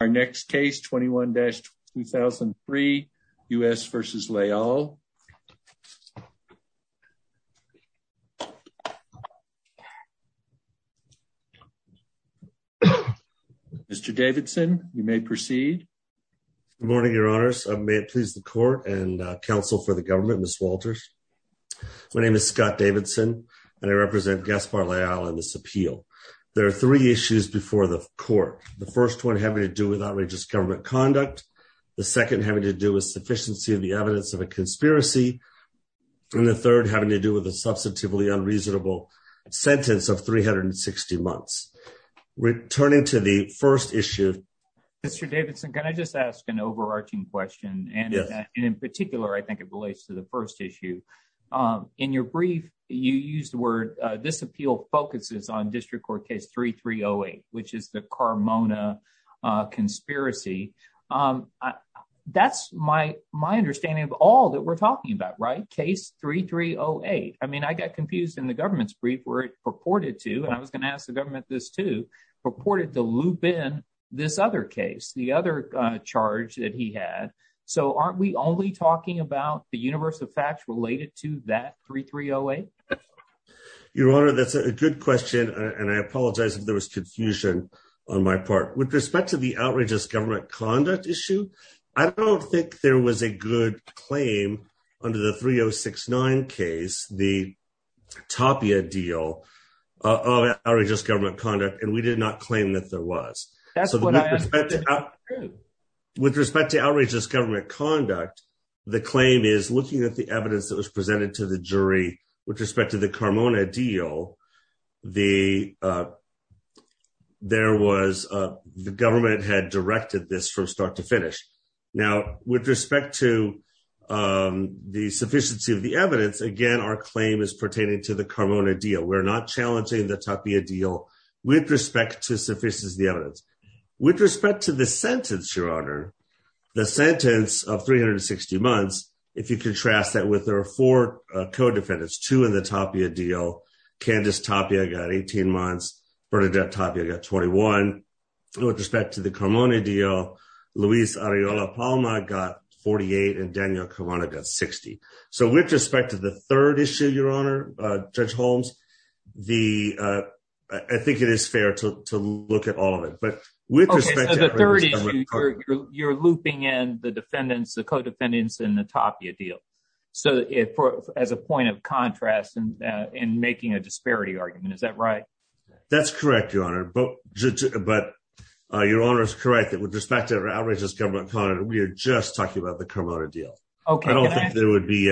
Our next case, 21-2003, U.S. v. Leal. Mr. Davidson, you may proceed. Good morning, your honors. May it please the court and counsel for the government, Ms. Walters, my name is Scott Davidson and I represent Gaspar Leal in this appeal. There are three issues before the court. The first one having to do with outrageous government conduct. The second having to do with sufficiency of the evidence of a conspiracy. And the third having to do with a substantively unreasonable sentence of 360 months. Returning to the first issue. Mr. Davidson, can I just ask an overarching question? And in particular, I think it relates to the first issue. In your brief, you used the word this appeal focuses on district court case 3308, which is the Carmona conspiracy. That's my my understanding of all that we're talking about, right? Case 3308. I mean, I got confused in the government's brief where it purported to, and I was going to ask the government this too, purported to loop in this other case, the other charge that he had. So aren't we only talking about the universe of facts related to that 3308? Your honor, that's a good question. And I apologize if there was confusion on my part. With respect to the outrageous government conduct issue, I don't think there was a good claim under the 3069 case, the Tapia deal of outrageous government conduct. And we did not claim that there was. With respect to outrageous government conduct, the claim is looking at the evidence that was presented to the jury with respect to the Carmona deal. The, uh, there was, uh, the government had directed this from start to finish. Now, with respect to, um, the sufficiency of the evidence, again, our claim is pertaining to the Carmona deal. We're not challenging the Tapia deal with respect to suffices, the evidence with respect to the sentence, your honor, the sentence of 360 months. If you contrast that with, there are four co-defendants, two in the Tapia deal Candace Tapia got 18 months, Bernadette Tapia got 21 with respect to the Carmona deal, Luis Arreola Palma got 48 and Daniel Carmona got 60. So with respect to the third issue, your honor, uh, judge Holmes, the, uh, I think it is fair to look at all of it, but with respect to the third issue, you're looping in the defendants, the co-defendants in the Tapia deal. So as a point of contrast and, uh, in making a disparity argument, is that right? That's correct, your honor, but, but, uh, your honor is correct that with respect to outrageous government, we are just talking about the Carmona deal. I don't think there would be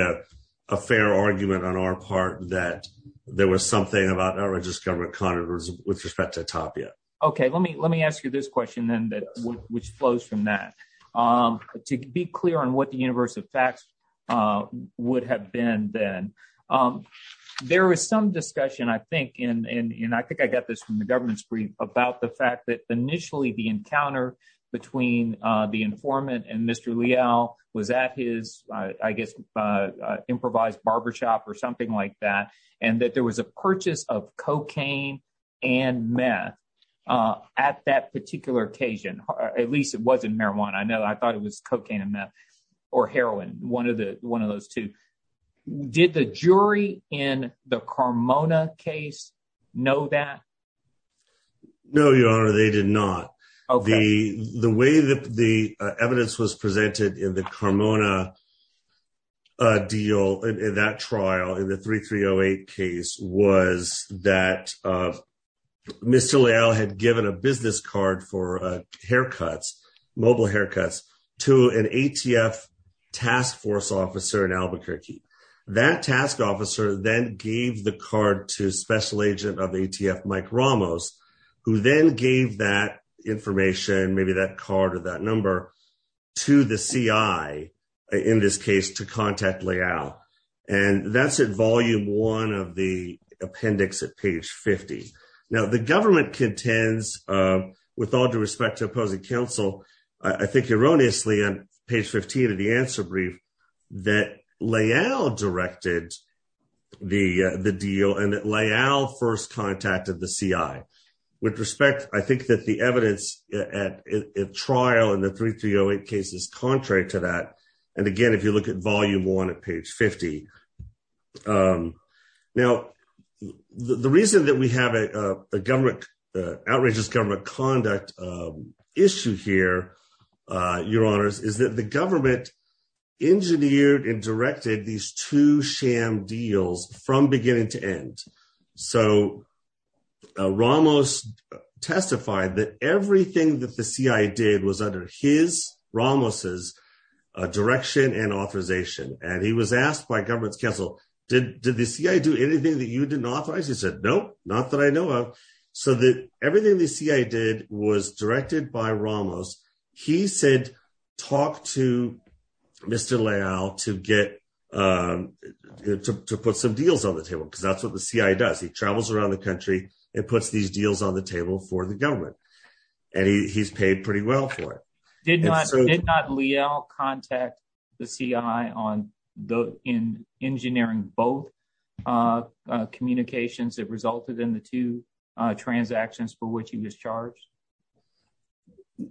a fair argument on our part that there was something about outrageous government conduct with respect to Tapia. Okay. Let me, let me ask you this question then, which flows from that, um, to be clear on what the universe of facts, uh, would have been then, um, there was some discussion, I think, and, and, and I think I got this from the government's brief about the fact that initially the encounter between, uh, the informant and Mr. Leal was at his, uh, I guess, uh, uh, improvised barbershop or something like that, and that there was a purchase of cocaine and meth, uh, at that particular occasion, at least it wasn't marijuana. I know, I thought it was cocaine and meth or heroin. One of the, one of those two, did the jury in the Carmona case know that? No, your honor, they did not. The, the way that the evidence was presented in the Carmona, uh, deal in that trial, in the 3308 case was that, uh, Mr. had given a business card for, uh, haircuts, mobile haircuts to an ATF task force officer in Albuquerque that task officer then gave the card to special agent of ATF, Mike Ramos, who then gave that information, maybe that card or that number to the CI in this case to contact Leal and that's at volume one of the appendix at page 50. Now the government contends, uh, with all due respect to opposing counsel, I think erroneously on page 15 of the answer brief that Leal directed the, uh, the deal and that Leal first contacted the CI. With respect, I think that the evidence at trial in the 3308 case is contrary to that, and again, if you look at volume one at page 50, um, now the reason that we have a, uh, a government, uh, outrageous government conduct, um, issue here, uh, your honors is that the government engineered and directed these two sham deals from beginning to end. So, uh, Ramos testified that everything that the CI did was under his, Ramos's, uh, direction and authorization. And he was asked by government's counsel, did, did the CI do anything that you didn't authorize? He said, nope, not that I know of. So the, everything the CI did was directed by Ramos. He said, talk to Mr. Leal to get, um, to, to put some deals on the table. Cause that's what the CI does. He travels around the country and puts these deals on the table for the government. And he he's paid pretty well for it. Did not Leal contact the CI on the, in engineering, both, uh, uh, communications that resulted in the two, uh, transactions for which he was charged?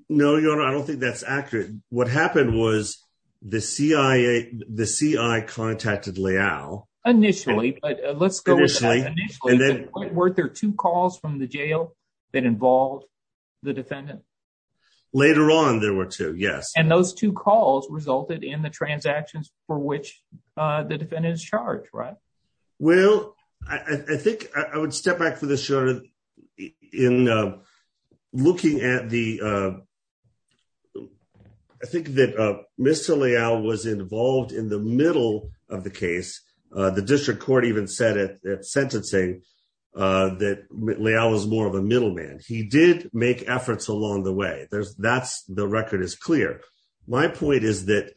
No, your honor. I don't think that's accurate. What happened was the CI, the CI contacted Leal initially, but let's go with initially, were there two calls from the jail that involved the defendant? Later on, there were two, yes. And those two calls resulted in the transactions for which, uh, the defendant is charged, right? Well, I think I would step back for the shorter in, uh, looking at the, uh, I think that, uh, Mr. Leal was involved in the middle of the case. Uh, the district court even said at that sentencing, uh, that Leal was more of a middleman. He did make efforts along the way. There's that's the record is clear. My point is that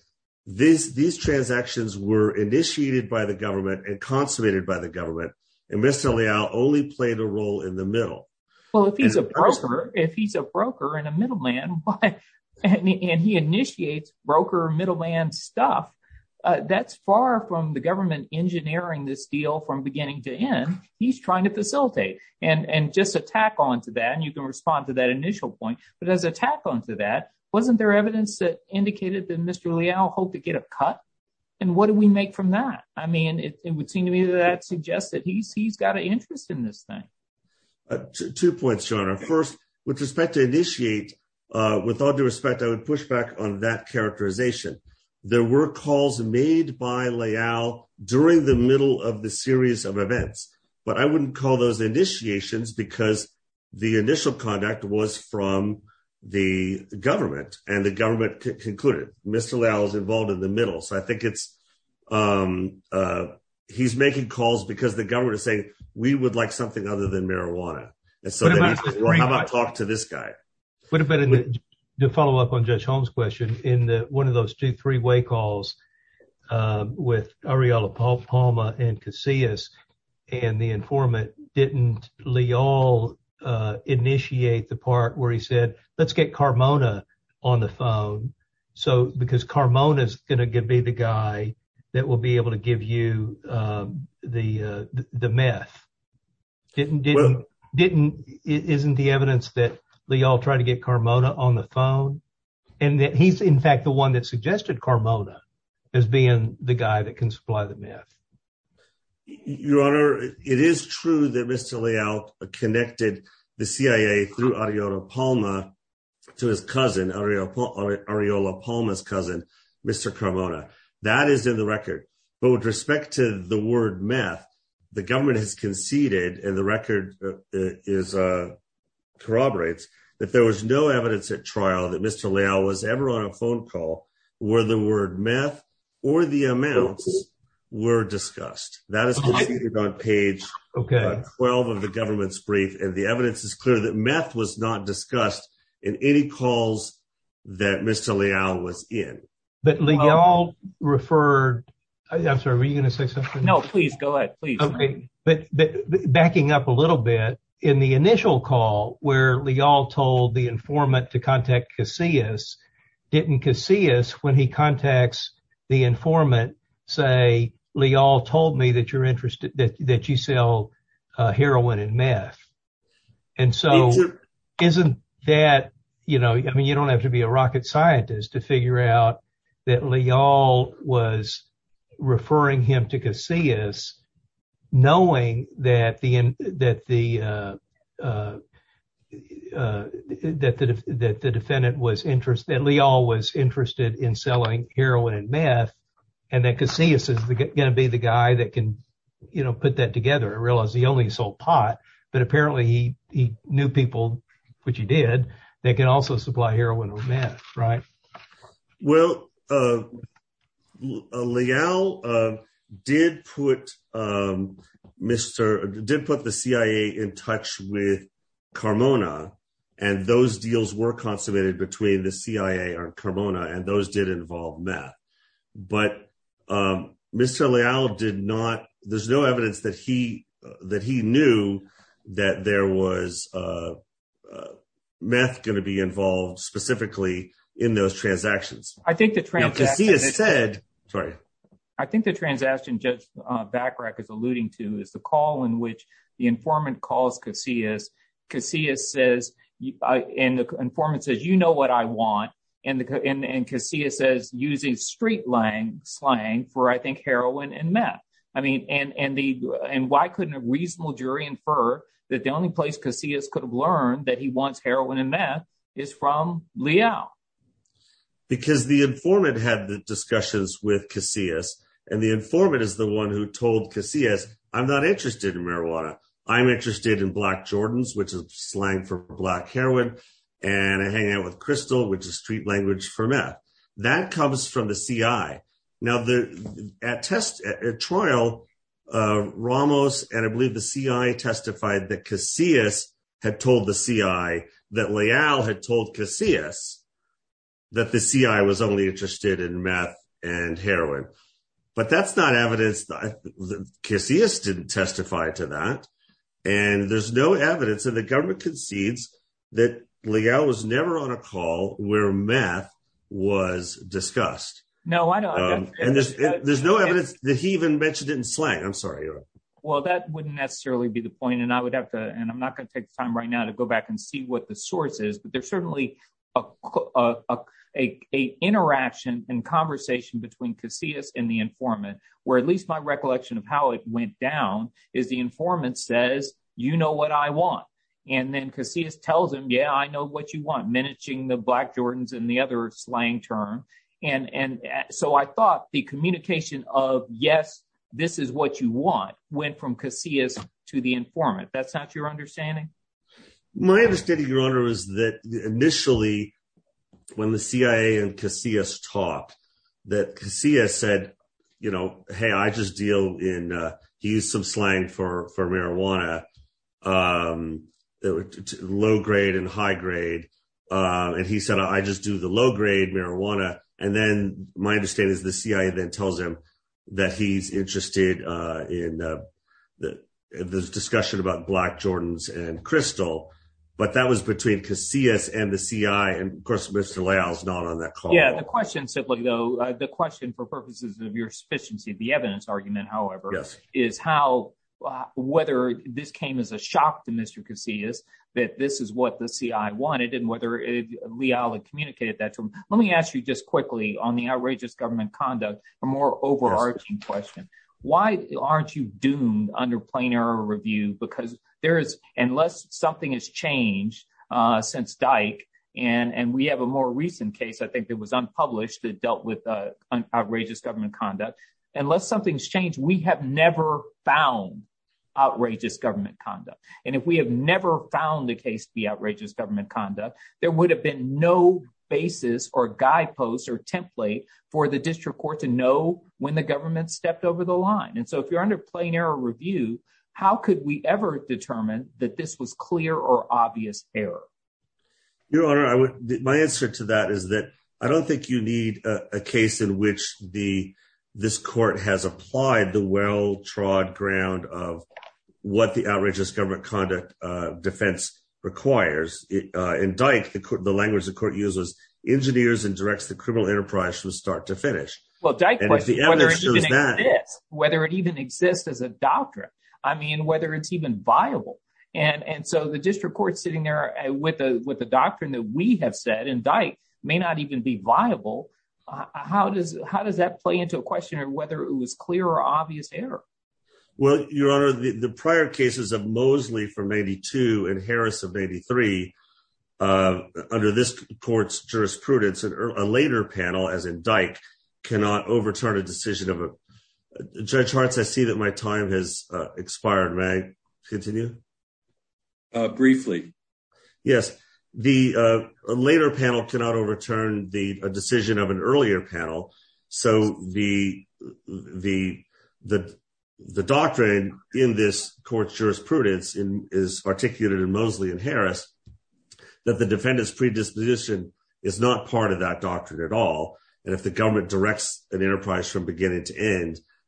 this, these transactions were initiated by the government and consummated by the government and Mr. Leal only played a role in the middle. Well, if he's a broker, if he's a broker and a middleman, and he initiates broker middleman stuff, uh, that's far from the government engineering this deal from beginning to end, he's trying to facilitate and, and just attack onto that. And you can respond to that initial point, but as a tack onto that, wasn't there evidence that indicated that Mr. Leal hoped to get a cut? And what did we make from that? I mean, it would seem to me that suggests that he's, he's got an interest in this thing. Two points, John, our first with respect to initiate, uh, with all due respect, I would push back on that characterization. There were calls made by Leal during the middle of the series of events, but I wouldn't call those initiations because the initial conduct was from the government and the government concluded Mr. Leal was involved in the middle. So I think it's, um, uh, he's making calls because the government is saying we would like something other than marijuana. And so how about talk to this guy? What about to follow up on judge Holmes question in the, one of those two, three way calls, uh, with Ariella, Paul Palma and Casillas and the informant didn't Leal, uh, initiate the part where he said, let's get Carmona on the phone. So, because Carmona is going to give me the guy that will be able to give you, um, the, uh, the meth didn't, didn't, didn't, isn't the evidence that they all tried to get Carmona on the phone. And that he's in fact, the one that suggested Carmona as being the guy that can supply the meth. Your honor, it is true that Mr. connected the CIA through audio to Palma to his cousin, Ariella, Ariella Palmas, cousin, Mr. Carmona that is in the record, but with respect to the word meth, the government has conceded and the record is, uh, corroborates that there was no evidence at trial that Mr. Leal was ever on a phone call where the word meth or the amounts were discussed. That is on page 12 of the government's brief. And the evidence is clear that meth was not discussed in any calls that Mr. Leal was in. But Leal referred, I'm sorry, were you going to say something? No, please go ahead. Please. Okay. But backing up a little bit in the initial call where Leal told the informant to contact Casillas, didn't Casillas, when he contacts the that you're interested, that, that you sell heroin and meth. And so isn't that, you know, I mean, you don't have to be a rocket scientist to figure out that Leal was referring him to Casillas knowing that the, that the, uh, uh, uh, that, that the defendant was interested, that Leal was interested in selling heroin and meth. And that Casillas is going to be the guy that can, you know, put that together. I realized he only sold pot, but apparently he, he knew people, which he did, that can also supply heroin or meth, right? Well, uh, uh, Leal, uh, did put, um, Mr. did put the CIA in touch with Carmona and those deals were consummated between the CIA or Carmona. And those did involve meth. But, um, Mr. Leal did not, there's no evidence that he, that he knew that there was, uh, uh, meth going to be involved specifically in those transactions. I think the transaction said, sorry. I think the transaction judge, uh, back rack is alluding to is the call in which the informant calls Casillas, Casillas says, and the informant says, you know what I want and the, and, and Casillas says using street Lang slang for, I think heroin and meth, I mean, and, and the, and why couldn't a reasonable jury infer that the only place Casillas could have learned that he wants heroin and meth is from Leal. Because the informant had the discussions with Casillas and the informant is the one who told Casillas, I'm not interested in marijuana. I'm interested in black Jordans, which is slang for black heroin. And I hang out with crystal, which is street language for meth. That comes from the CI. Now the, at test trial, uh, Ramos, and I believe the CI testified that Casillas had told the CI that Leal had told Casillas that the CI was only interested in meth and heroin. But that's not evidence that Casillas didn't testify to that. And there's no evidence that the government concedes that Leal was never on a call where meth was discussed. No, I don't. And there's, there's no evidence that he even mentioned it in slang. I'm sorry. Well, that wouldn't necessarily be the point. And I would have to, and I'm not going to take the time right now to go back and see what the source is, but there's certainly a, a, a, a interaction and conversation between Casillas and the informant where at least my you know what I want. And then Casillas tells him, yeah, I know what you want. Minishing the black Jordans and the other slang term. And, and so I thought the communication of yes, this is what you want went from Casillas to the informant. That's not your understanding. My understanding, your honor, is that initially when the CIA and Casillas talked that Casillas said, you know, Hey, I just deal in he used some slang for, for marijuana, low grade and high grade. And he said, I just do the low grade marijuana. And then my understanding is the CIA then tells him that he's interested in the discussion about black Jordans and crystal, but that was between Casillas and the CIA. And of course, Mr. Leal's not on that call. The question simply though, the question for purposes of your sufficiency, the evidence argument, however, is how, whether this came as a shock to Mr. Casillas, that this is what the CI wanted. And whether Leal had communicated that to him, let me ask you just quickly on the outrageous government conduct, a more overarching question. Why aren't you doomed under plain error review? Because there is, unless something has changed since Dyke and we have a more recent case, I think that was unpublished that dealt with outrageous government conduct, unless something's changed, we have never found. Outrageous government conduct. And if we have never found the case to be outrageous government conduct, there would have been no basis or guideposts or template for the district court to know when the government stepped over the line. And so if you're under plain error review, how could we ever determine that this was clear or obvious error? Your Honor, I would, my answer to that is that I don't think you need a case in which the, this court has applied the well-trod ground of what the outrageous government conduct defense requires. In Dyke, the language the court uses, engineers and directs the criminal enterprise from start to finish. Well, Dyke, whether it even exists as a doctrine, I mean, whether it's even viable and, and so the district court sitting there with the, with the doctrine that we have said in Dyke may not even be viable, how does, how does that play into a question or whether it was clear or obvious error? Well, Your Honor, the prior cases of Mosley from 82 and Harris of 83 under this court's jurisprudence and a later panel as in Dyke cannot overturn a decision of a, Judge Hartz, I see that my time has expired. May I continue? Briefly. Yes. The later panel cannot overturn the decision of an earlier panel. So the, the, the, the doctrine in this court's jurisprudence is articulated in Mosley and Harris that the defendant's predisposition is not part of that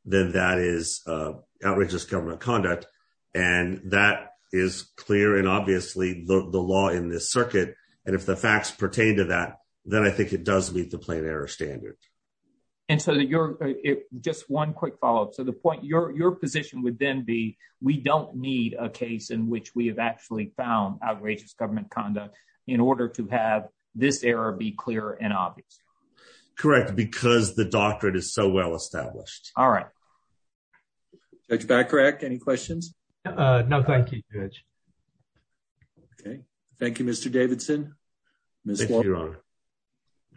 then that is, uh, outrageous government conduct. And that is clear and obviously the law in this circuit. And if the facts pertain to that, then I think it does meet the plain error standard. And so that you're just one quick follow-up. So the point you're, your position would then be, we don't need a case in which we have actually found outrageous government conduct in order to have this error be clear and obvious. Correct. Because the doctrine is so well-established. All right. Judge Bacharach, any questions? Uh, no. Thank you, Judge. Okay. Thank you, Mr. Davidson, Ms. Walker.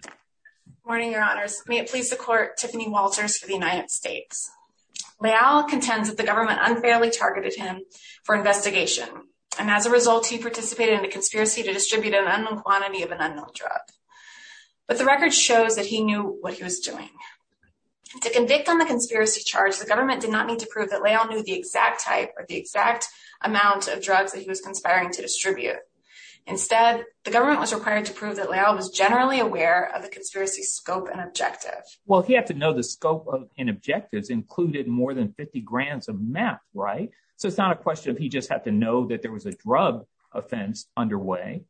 Good morning, your honors. May it please the court, Tiffany Walters for the United States. Leal contends that the government unfairly targeted him for investigation. And as a result, he participated in a conspiracy to distribute an unknown quantity of an unknown drug. But the record shows that he knew what he was doing. To convict on the conspiracy charge, the government did not need to prove that Leal knew the exact type or the exact amount of drugs that he was conspiring to distribute. Instead, the government was required to prove that Leal was generally aware of the conspiracy scope and objective. Well, he had to know the scope and objectives included more than 50 grand of meth, right? So it's not a question of, he just had to know that there was a drug offense underway.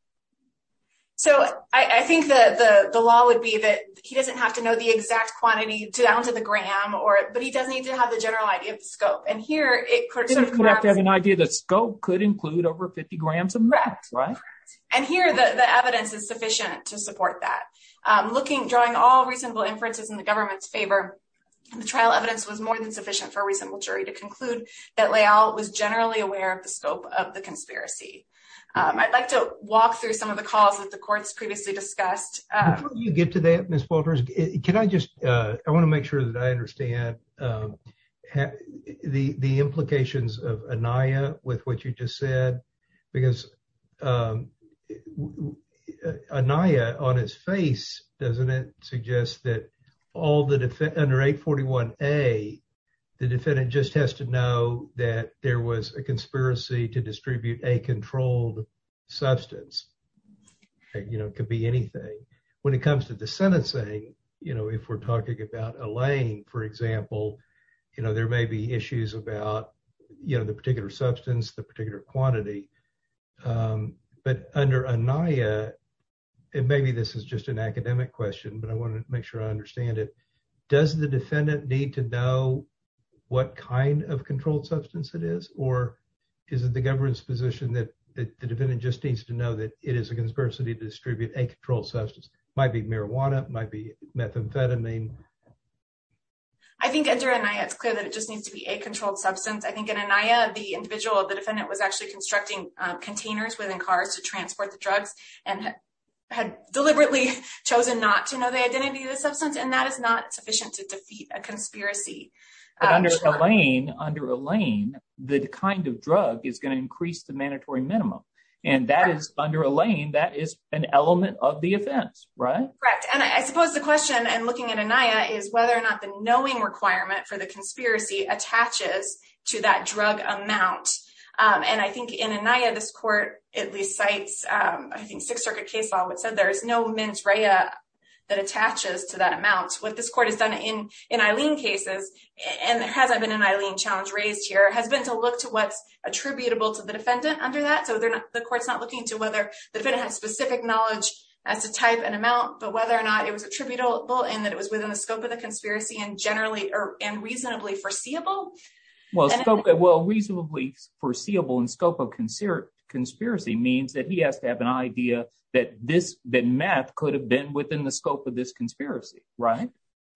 So I think that the law would be that he doesn't have to know the exact quantity to down to the gram or, but he doesn't need to have the general idea of the scope and here it could have an idea that scope could include over 50 grams of meth, right? And here the evidence is sufficient to support that. I'm looking, drawing all reasonable inferences in the government's favor. The trial evidence was more than sufficient for a reasonable jury to conclude that Leal was generally aware of the scope of the conspiracy. I'd like to walk through some of the calls that the court's previously discussed. Before you get to that, Ms. Walters, can I just, I want to make sure that I understand the implications of Aniyah with what you just said, because Aniyah on his face, doesn't it suggest that all the defendant under 841A, the defendant just has to that there was a conspiracy to distribute a controlled substance, you know, it could be anything. When it comes to the sentencing, you know, if we're talking about Elaine, for example, you know, there may be issues about, you know, the particular substance, the particular quantity, but under Aniyah, and maybe this is just an academic question, but I want to make sure I understand it. Does the defendant need to know what kind of controlled substance it is, or is it the government's position that the defendant just needs to know that it is a conspiracy to distribute a controlled substance, might be marijuana, might be methamphetamine? I think under Aniyah, it's clear that it just needs to be a controlled substance. I think in Aniyah, the individual, the defendant was actually constructing containers within cars to transport the drugs and had deliberately chosen not to know the identity of the substance. And that is not sufficient to defeat a conspiracy. But under Elaine, under Elaine, the kind of drug is going to increase the mandatory minimum. And that is under Elaine, that is an element of the offense, right? Correct. And I suppose the question and looking at Aniyah is whether or not the knowing requirement for the conspiracy attaches to that drug amount. And I think in Aniyah, this court at least cites, I think Sixth Circuit case law, which said there is no mens rea that attaches to that amount. What this court has done in, in Eileen cases, and there hasn't been an Eileen challenge raised here, has been to look to what's attributable to the defendant under that. So they're not, the court's not looking into whether the defendant has specific knowledge as to type and amount, but whether or not it was attributable in that it was within the scope of the conspiracy and generally, or, and reasonably foreseeable. Well, scope, well, reasonably foreseeable in scope of conspiracy means that he has to have an idea that this, that meth could have been within the scope of this conspiracy, right?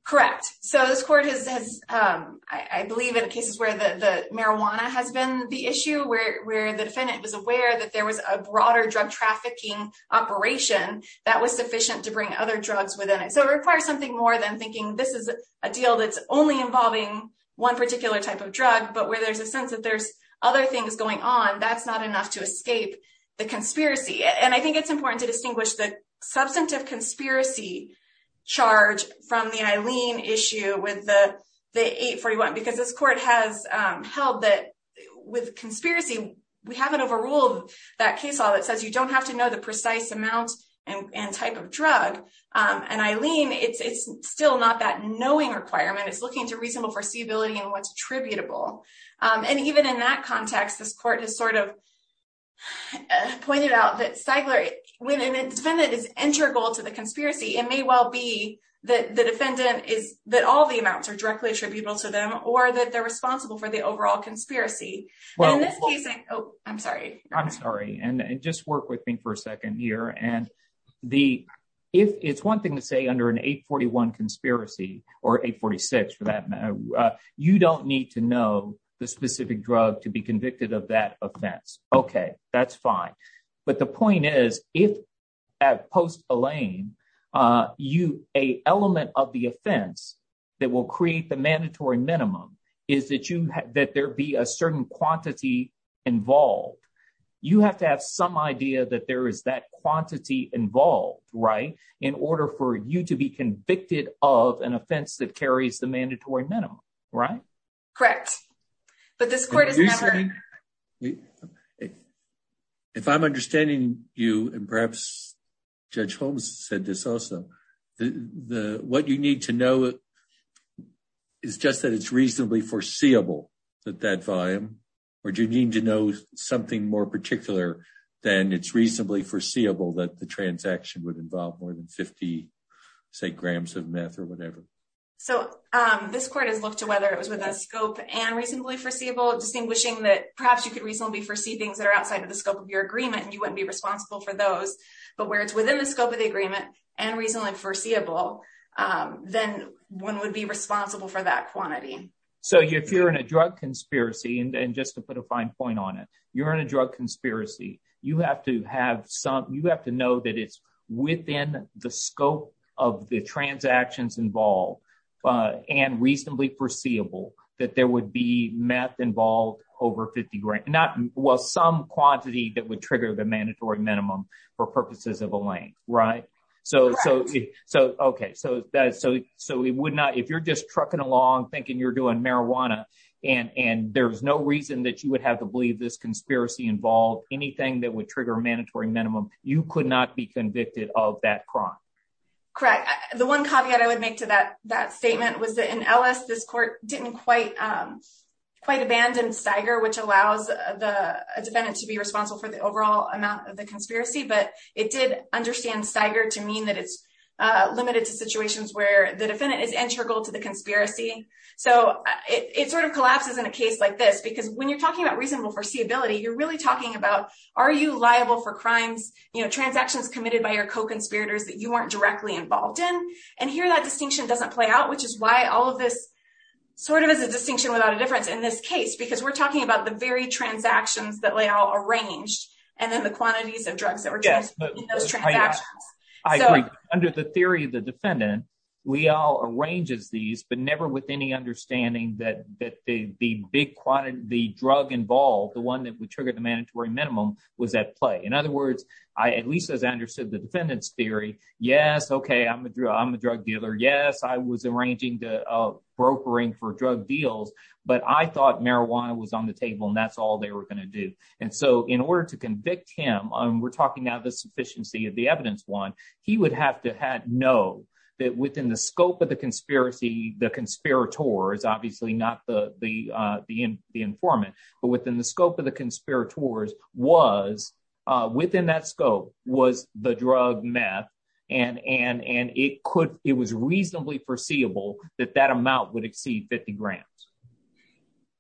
Correct. So this court has, has I believe in cases where the marijuana has been the issue where, where the defendant was aware that there was a broader drug trafficking operation that was sufficient to bring other drugs within it. So it requires something more than thinking this is a deal that's only involving one particular type of drug, but where there's a sense that there's other things going on. That's not enough to escape the conspiracy. And I think it's important to distinguish the substantive conspiracy charge from the Eileen issue with the, the 841, because this court has held that with conspiracy, we haven't overruled that case law that says you don't have to know the precise amount and type of drug and Eileen. It's, it's still not that knowing requirement. It's looking to reasonable foreseeability and what's attributable. And even in that context, this court has sort of pointed out that Stigler when an defendant is integral to the conspiracy, it may well be that the defendant is that all the amounts are directly attributable to them or that they're responsible for the overall conspiracy in this case. Oh, I'm sorry. I'm sorry. And just work with me for a second here. And the, if it's one thing to say under an 841 conspiracy or 846 for that, you don't need to know the specific drug to be convicted of that offense. Okay. That's fine. But the point is, if at post Elaine, you, a element of the offense that will create the mandatory minimum is that you, that there be a certain quantity involved, you have to have some idea that there is that quantity involved right in order for you to be convicted of an offense that carries the mandatory minimum, right? Correct. But this court is never. If I'm understanding you and perhaps judge Holmes said this also, the, what you need to know is just that it's reasonably foreseeable that that volume, or do you need to know something more particular than it's reasonably foreseeable that the transaction would involve more than 50 say grams of meth or whatever. So, um, this court has looked to whether it was within a scope and reasonably foreseeable distinguishing that perhaps you could reasonably foresee things that are outside of the scope of your agreement and you wouldn't be responsible for those, but where it's within the scope of the agreement and reasonably foreseeable, um, then one would be responsible for that quantity. So if you're in a drug conspiracy and just to put a fine point on it, you're in a drug conspiracy. You have to have some, you have to know that it's within the scope of the transactions involved, uh, and reasonably foreseeable that there would be meth involved over 50 grand, not well, some quantity that would trigger the mandatory minimum for purposes of a lane. Right. So, so, so, okay. So that, so, so it would not, if you're just trucking along thinking you're doing marijuana and, and there's no reason that you would have to believe this conspiracy involved anything that would trigger a mandatory minimum, you could not be convicted of that crime. Correct. The one caveat I would make to that, that statement was that in Ellis, this court didn't quite, um, quite abandoned Steiger, which allows the defendant to be responsible for the overall amount of the conspiracy, but it did understand Steiger to mean that it's, uh, limited to situations where the defendant is integral to the conspiracy. So it sort of collapses in a case like this, because when you're talking about reasonable foreseeability, you're really talking about, are you liable for crimes, you know, transactions committed by your co-conspirators that you weren't directly involved in. And here that distinction doesn't play out, which is why all of this sort of is a distinction without a difference in this case, because we're talking about the very transactions that layout arranged and then the quantities of drugs that were just in those transactions under the theory of the defendant, we all arrange as these, but never with any understanding that, that the, the big quantity, the drug involved, the one that would trigger the mandatory minimum was at play. In other words, I, at least as I understood the defendant's theory. Yes. Okay. I'm a drug, I'm a drug dealer. Yes. I was arranging the, uh, brokering for drug deals, but I thought marijuana was on the table and that's all they were going to do. And so in order to convict him, um, we're talking now the sufficiency of the evidence one. He would have to have, know that within the scope of the conspiracy, the conspirators, obviously not the, the, uh, the, the informant, but within that scope was the drug meth. And, and, and it could, it was reasonably foreseeable that that amount would exceed 50 grand.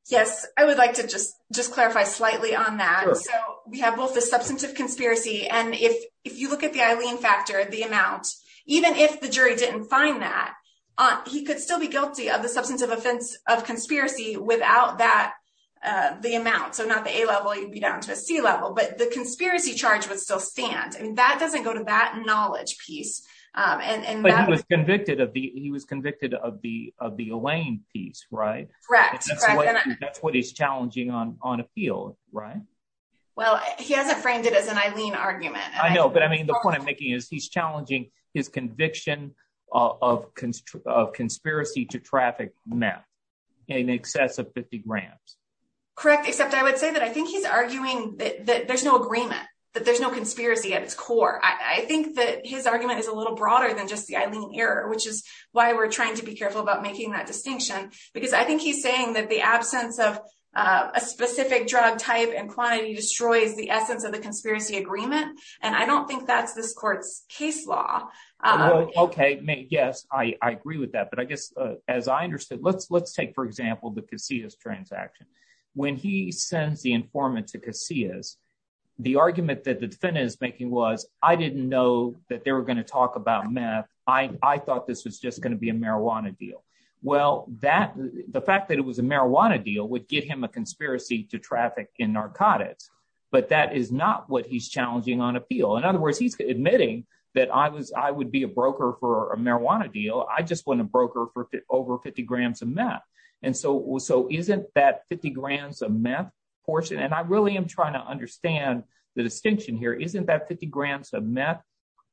Yes. I would like to just, just clarify slightly on that. So we have both the substance of conspiracy. And if, if you look at the Eileen factor, the amount, even if the jury didn't find that he could still be guilty of the substance of offense of conspiracy without that, uh, the amount. So not the a level, you'd be down to a C level, but the charge would still stand. I mean, that doesn't go to that knowledge piece. Um, and, and he was convicted of the, he was convicted of the, of the Elaine piece, right? That's what he's challenging on, on appeal, right? Well, he hasn't framed it as an Eileen argument. I know, but I mean, the point I'm making is he's challenging his conviction of cons of conspiracy to traffic meth in excess of 50 grams. Correct. Except I would say that I think he's arguing that there's no agreement that there's no conspiracy at its core. I think that his argument is a little broader than just the Eileen error, which is why we're trying to be careful about making that distinction, because I think he's saying that the absence of a specific drug type and quantity destroys the essence of the conspiracy agreement, and I don't think that's this court's case law. Okay. May. Yes, I agree with that. But I guess, uh, as I understood, let's, let's take, for example, the Casillas transaction. When he sends the informant to Casillas, the argument that the defendant is making was, I didn't know that they were going to talk about meth. I thought this was just going to be a marijuana deal. Well, that the fact that it was a marijuana deal would get him a conspiracy to traffic in narcotics, but that is not what he's challenging on appeal. In other words, he's admitting that I was, I would be a broker for a marijuana deal. I just want a broker for over 50 grams of meth. And so, so isn't that 50 grams of meth portion? And I really am trying to understand the distinction here. Isn't that 50 grams of meth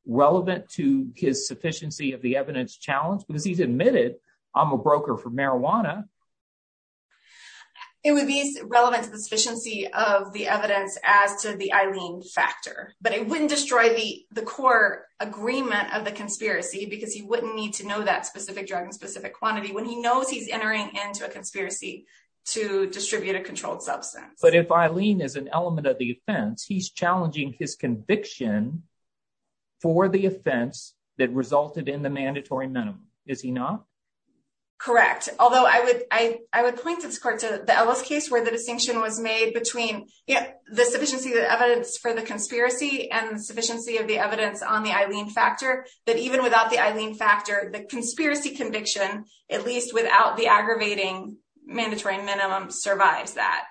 relevant to his sufficiency of the evidence challenge, because he's admitted I'm a broker for marijuana. It would be relevant to the sufficiency of the evidence as to the Eileen factor, but it wouldn't destroy the, the core agreement of the conspiracy because he wouldn't need to know that specific drug and specific quantity when he knows he's entering into a conspiracy to distribute a controlled substance. But if Eileen is an element of the offense, he's challenging his conviction. For the offense that resulted in the mandatory minimum, is he not correct? Although I would, I, I would point this court to the Ellis case where the distinction was made between the sufficiency of the evidence for the conspiracy and the sufficiency of the evidence on the Eileen factor, that even without the Eileen factor, the conspiracy conviction, at least without the aggravating mandatory minimum survives that,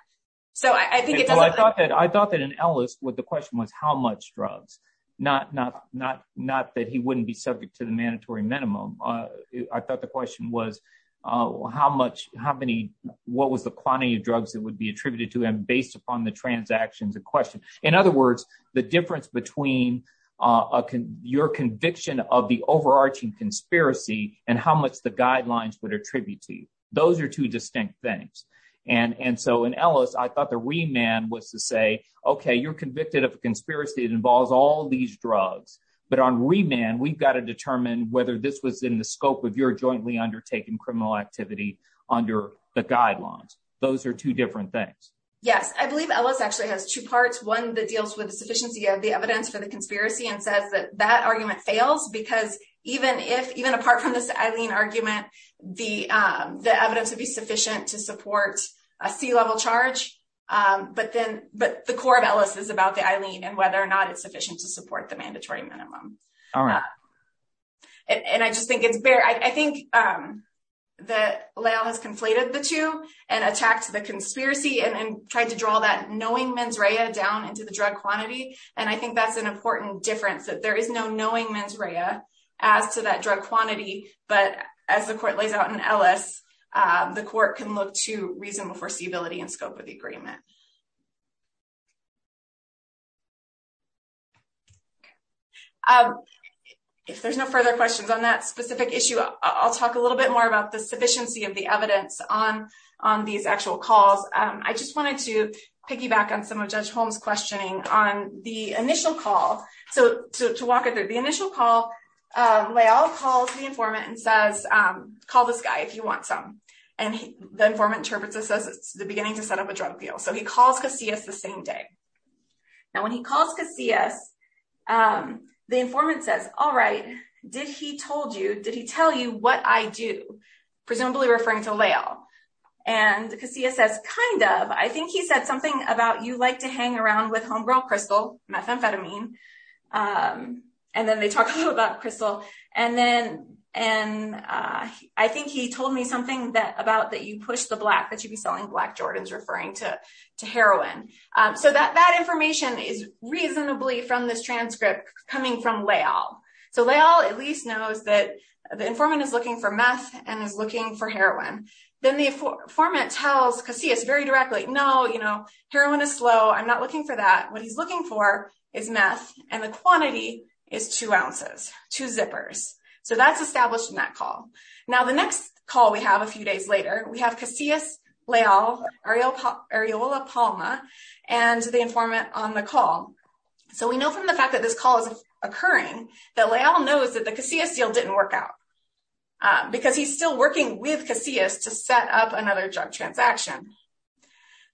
so I think it doesn't. Well, I thought that, I thought that an Ellis with the question was how much drugs, not, not, not, not that he wouldn't be subject to the mandatory minimum. I thought the question was how much, how many, what was the quantity of drugs that would be attributed to him based upon the transactions in question? In other words, the difference between, uh, your conviction of the overarching conspiracy and how much the guidelines would attribute to you. Those are two distinct things. And, and so in Ellis, I thought the remand was to say, okay, you're convicted of a conspiracy that involves all these drugs, but on remand, we've got to determine whether this was in the scope of your jointly undertaken criminal activity under the guidelines. Those are two different things. Yes. I believe Ellis actually has two parts. One that deals with the sufficiency of the evidence for the conspiracy and says that that argument fails because even if, even apart from this Eileen argument, the, um, the evidence would be sufficient to support a C-level charge. Um, but then, but the core of Ellis is about the Eileen and whether or not it's sufficient to support the mandatory minimum. All right. And I just think it's bare. I think, um, that Lael has conflated the two and attacked the conspiracy and tried to draw that knowing mens rea down into the drug quantity. And I think that's an important difference that there is no knowing mens rea as to that drug quantity. But as the court lays out in Ellis, uh, the court can look to reasonable foreseeability and scope of the agreement. Um, if there's no further questions on that specific issue, I'll talk a little bit more about the sufficiency of the evidence on, on these actual calls. Um, I just wanted to piggyback on some of judge Holmes questioning on the initial call. So to, to walk it through the initial call, um, Lael calls the informant and says, um, call this guy if you want some. And the informant interprets this as it's the beginning to set up a drug deal. So he calls Casillas the same day. Now, when he calls Casillas, um, the informant says, all right, did he told you, did he tell you what I do? Presumably referring to Lael. And Casillas says, kind of, I think he said something about, you like to hang around with homegrown crystal methamphetamine. Um, and then they talk a little about crystal and then, and, uh, I think he told me something that about that you push the black, that you'd be selling black Jordans referring to, to heroin. Um, so that, that information is reasonably from this transcript coming from Lael. So Lael at least knows that the informant is looking for meth and is looking for and the formant tells Casillas very directly. No, you know, heroin is slow. I'm not looking for that. What he's looking for is meth and the quantity is two ounces, two zippers. So that's established in that call. Now, the next call we have a few days later, we have Casillas, Lael, Areola Palma and the informant on the call. So we know from the fact that this call is occurring that Lael knows that the Casillas deal didn't work out. Uh, because he's still working with Casillas to set up another drug transaction.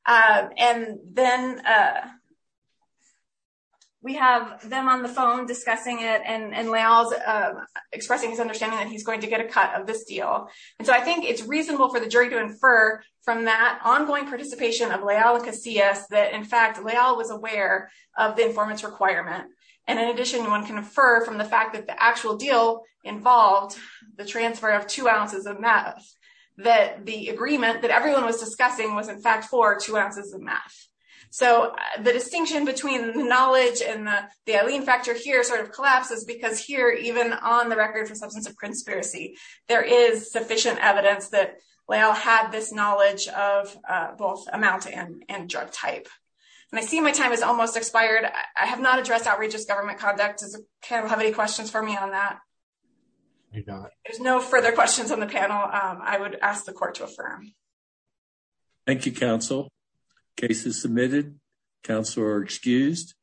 Uh, and then, uh, we have them on the phone discussing it and, and Lael's, uh, expressing his understanding that he's going to get a cut of this deal. And so I think it's reasonable for the jury to infer from that ongoing participation of Lael and Casillas that in fact, Lael was aware of the informant's requirement. And in addition, one can infer from the fact that the actual deal involved, the transfer of two ounces of meth, that the agreement that everyone was discussing was in fact for two ounces of meth. So the distinction between the knowledge and the, the Alene factor here sort of collapses because here, even on the record for substance of conspiracy, there is sufficient evidence that Lael had this knowledge of, uh, both amount and, and drug type. And I see my time is almost expired. I have not addressed outrageous government conduct. Does the panel have any questions for me on that? There's no further questions on the panel. Um, I would ask the court to affirm. Thank you, counsel. Case is submitted. Counselor excused.